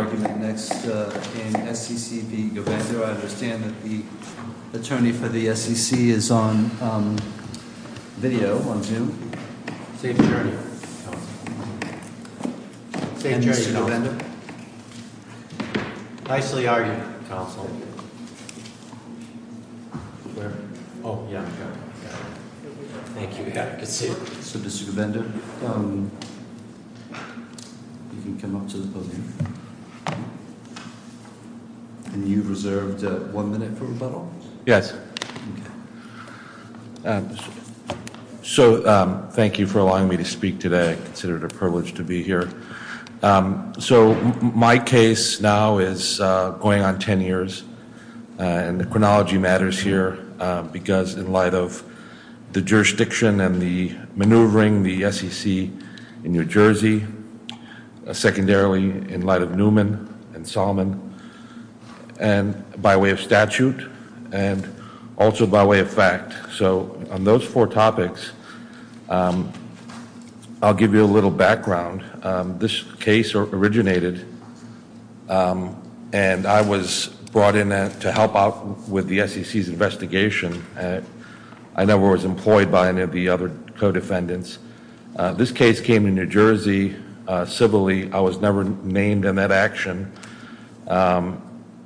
I understand that the attorney for the SEC is on video, on Zoom. Safe journey, Counsel. Safe journey, Counsel. And Mr. Govender? Nicely argued, Counsel. Where? Oh, yeah. Thank you. Good to see you. So, Mr. Govender, you can come up to the podium. And you've reserved one minute for rebuttal. Yes. So, thank you for allowing me to speak today. I consider it a privilege to be here. So, my case now is going on 10 years. And the chronology matters here, because in light of the jurisdiction and the maneuvering, the SEC in New Jersey, secondarily in light of Newman and Salmon, and by way of statute, and also by way of fact. So, on those four topics, I'll give you a little background. This case originated, and I was brought in to help out with the SEC's investigation. I never was employed by any of the other co-defendants. This case came to New Jersey civilly. I was never named in that action.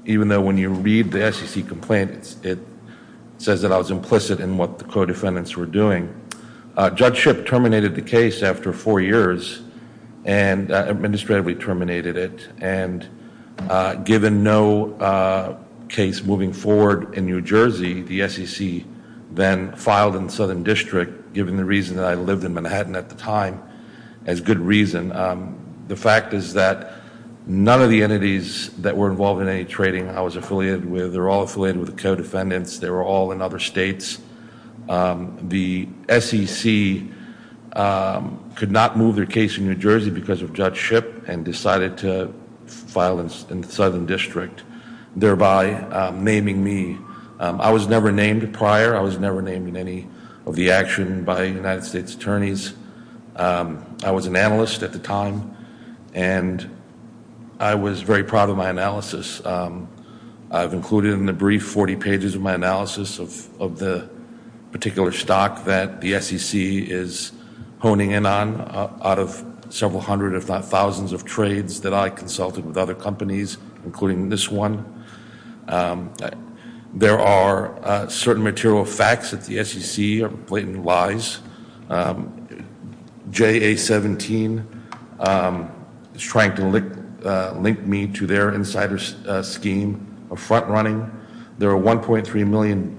Even though when you read the SEC complaint, it says that I was implicit in what the co-defendants were doing. Judgeship terminated the case after four years, and administratively terminated it. And given no case moving forward in New Jersey, the SEC then filed in the Southern District, given the reason that I lived in Manhattan at the time, as good reason. The fact is that none of the entities that were involved in any trading I was affiliated with, they were all affiliated with the co-defendants. They were all in other states. The SEC could not move their case in New Jersey because of judgeship, and decided to file in the Southern District, thereby naming me. I was never named prior. I was never named in any of the action by United States attorneys. I was an analyst at the time, and I was very proud of my analysis. I've included in the brief 40 pages of my analysis of the particular stock that the SEC is honing in on, out of several hundred, if not thousands, of trades that I consulted with other companies, including this one. There are certain material facts that the SEC blatantly lies. JA-17 is trying to link me to their insider scheme of front-running. There are 1.3 million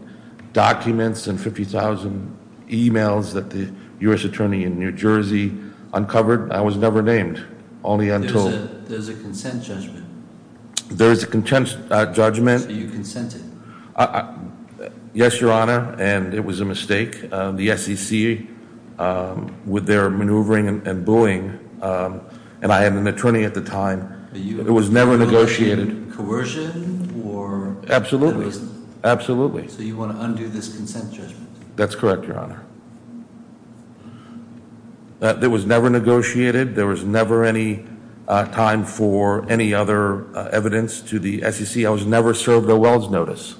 documents and 50,000 emails that the U.S. Attorney in New Jersey uncovered. I was never named, only untold. There's a consent judgment. There is a consent judgment. So you consented. Yes, Your Honor, and it was a mistake. The SEC, with their maneuvering and booing, and I am an attorney at the time. It was never negotiated. Are you in favor of coercion? Absolutely, absolutely. So you want to undo this consent judgment? That's correct, Your Honor. It was never negotiated. There was never any time for any other evidence to the SEC. I was never served a wells notice,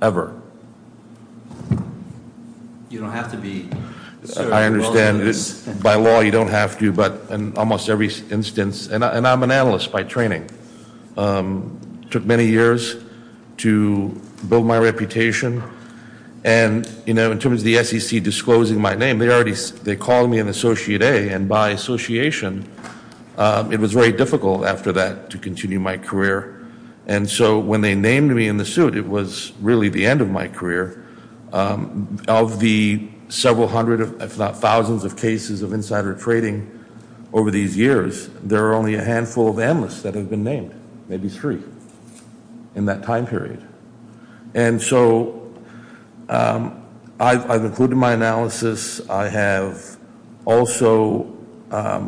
ever. You don't have to be served a wells notice. I understand. By law, you don't have to, but in almost every instance. And I'm an analyst by training. It took many years to build my reputation. And, you know, in terms of the SEC disclosing my name, they called me an Associate A. And by association, it was very difficult after that to continue my career. And so when they named me in the suit, it was really the end of my career. Of the several hundred, if not thousands, of cases of insider trading over these years, there are only a handful of analysts that have been named, maybe three, in that time period. And so I've included my analysis. I have also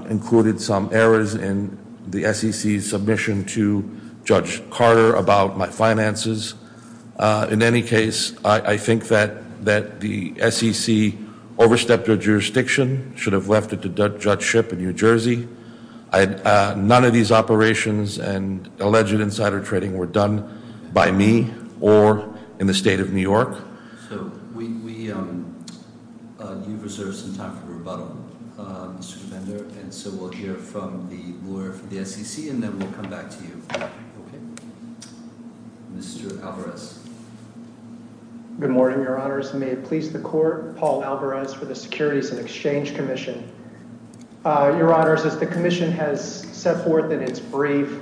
included some errors in the SEC's submission to Judge Carter about my finances. In any case, I think that the SEC overstepped their jurisdiction, should have left it to Judge Shipp in New Jersey. None of these operations and alleged insider trading were done by me or in the state of New York. So you've reserved some time for rebuttal, Mr. Govender. And so we'll hear from the lawyer for the SEC, and then we'll come back to you. Mr. Alvarez. Good morning, Your Honors. May it please the Court. Paul Alvarez for the Securities and Exchange Commission. Your Honors, as the commission has set forth in its brief,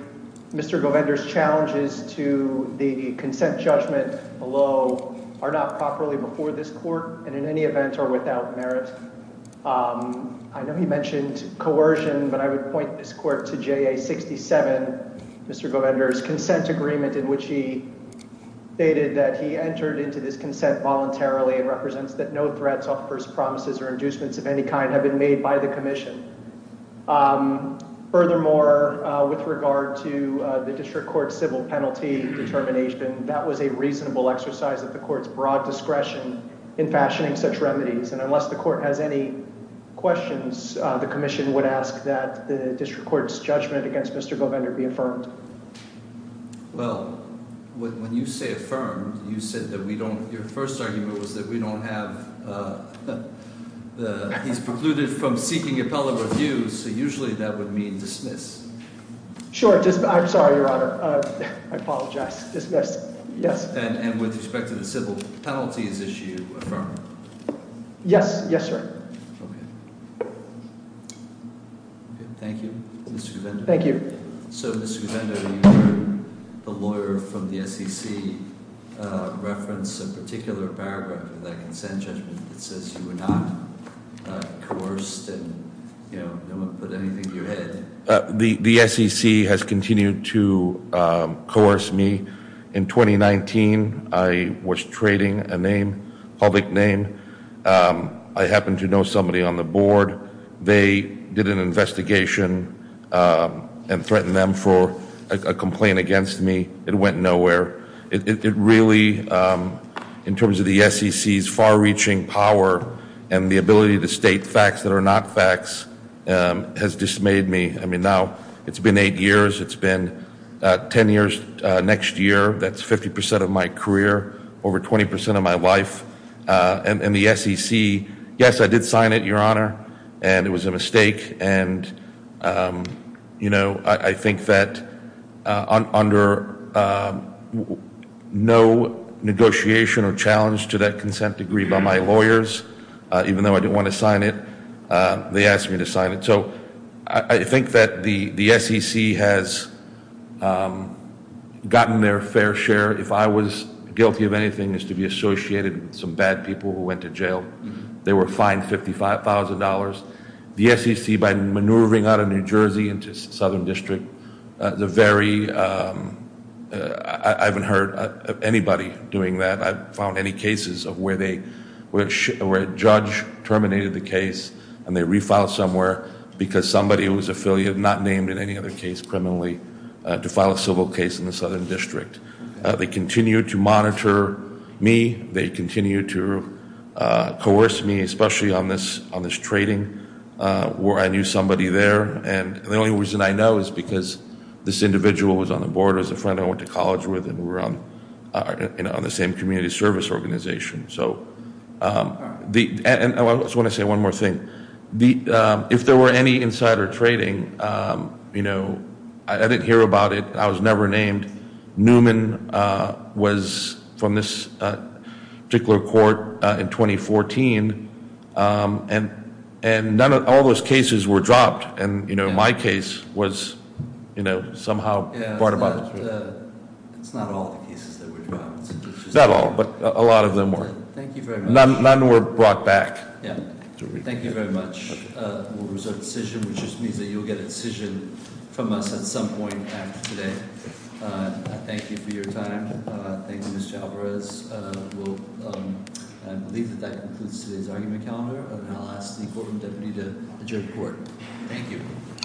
Mr. Govender's challenges to the consent judgment below are not properly before this Court, and in any event are without merit. I know he mentioned coercion, but I would point this Court to JA 67, Mr. Govender's consent agreement, in which he stated that he entered into this consent voluntarily, and represents that no threats, offers, promises, or inducements of any kind have been made by the commission. Furthermore, with regard to the district court's civil penalty determination, that was a reasonable exercise of the court's broad discretion in fashioning such remedies. And unless the court has any questions, the commission would ask that the district court's judgment against Mr. Govender be affirmed. Well, when you say affirmed, you said that we don't— So usually that would mean dismissed. Sure. I'm sorry, Your Honor. I apologize. Dismissed. Yes. And with respect to the civil penalties issue, affirmed? Yes. Yes, sir. Okay. Thank you, Mr. Govender. Thank you. So, Mr. Govender, you heard the lawyer from the SEC reference a particular paragraph in that consent judgment that says you were not coerced and, you know, no one put anything to your head. The SEC has continued to coerce me. In 2019, I was trading a name, public name. I happened to know somebody on the board. They did an investigation and threatened them for a complaint against me. It went nowhere. It really, in terms of the SEC's far-reaching power and the ability to state facts that are not facts, has dismayed me. I mean, now it's been eight years. It's been 10 years next year. That's 50 percent of my career, over 20 percent of my life. And the SEC—yes, I did sign it, Your Honor, and it was a mistake. And, you know, I think that under no negotiation or challenge to that consent degree by my lawyers, even though I didn't want to sign it, they asked me to sign it. So I think that the SEC has gotten their fair share. If I was guilty of anything, it's to be associated with some bad people who went to jail. They were fined $55,000. The SEC, by maneuvering out of New Jersey into Southern District, the very—I haven't heard of anybody doing that. I haven't found any cases of where they—where a judge terminated the case and they refiled somewhere because somebody who was affiliated, not named in any other case criminally, to file a civil case in the Southern District. They continue to monitor me. They continue to coerce me, especially on this trading where I knew somebody there. And the only reason I know is because this individual was on the board, was a friend I went to college with, and we're on the same community service organization. So—and I just want to say one more thing. If there were any insider trading, you know, I didn't hear about it. I was never named. Newman was from this particular court in 2014, and none of—all those cases were dropped. And, you know, my case was, you know, somehow brought about. It's not all the cases that were dropped. Not all, but a lot of them were. Thank you very much. None were brought back. Yeah. Thank you very much. We'll reserve a decision, which just means that you'll get a decision from us at some point after today. Thank you for your time. Thank you, Mr. Alvarez. We'll—I believe that that concludes today's argument calendar. And I'll ask the courtroom deputy to adjourn the court. Thank you. Court is adjourned. Court is adjourned.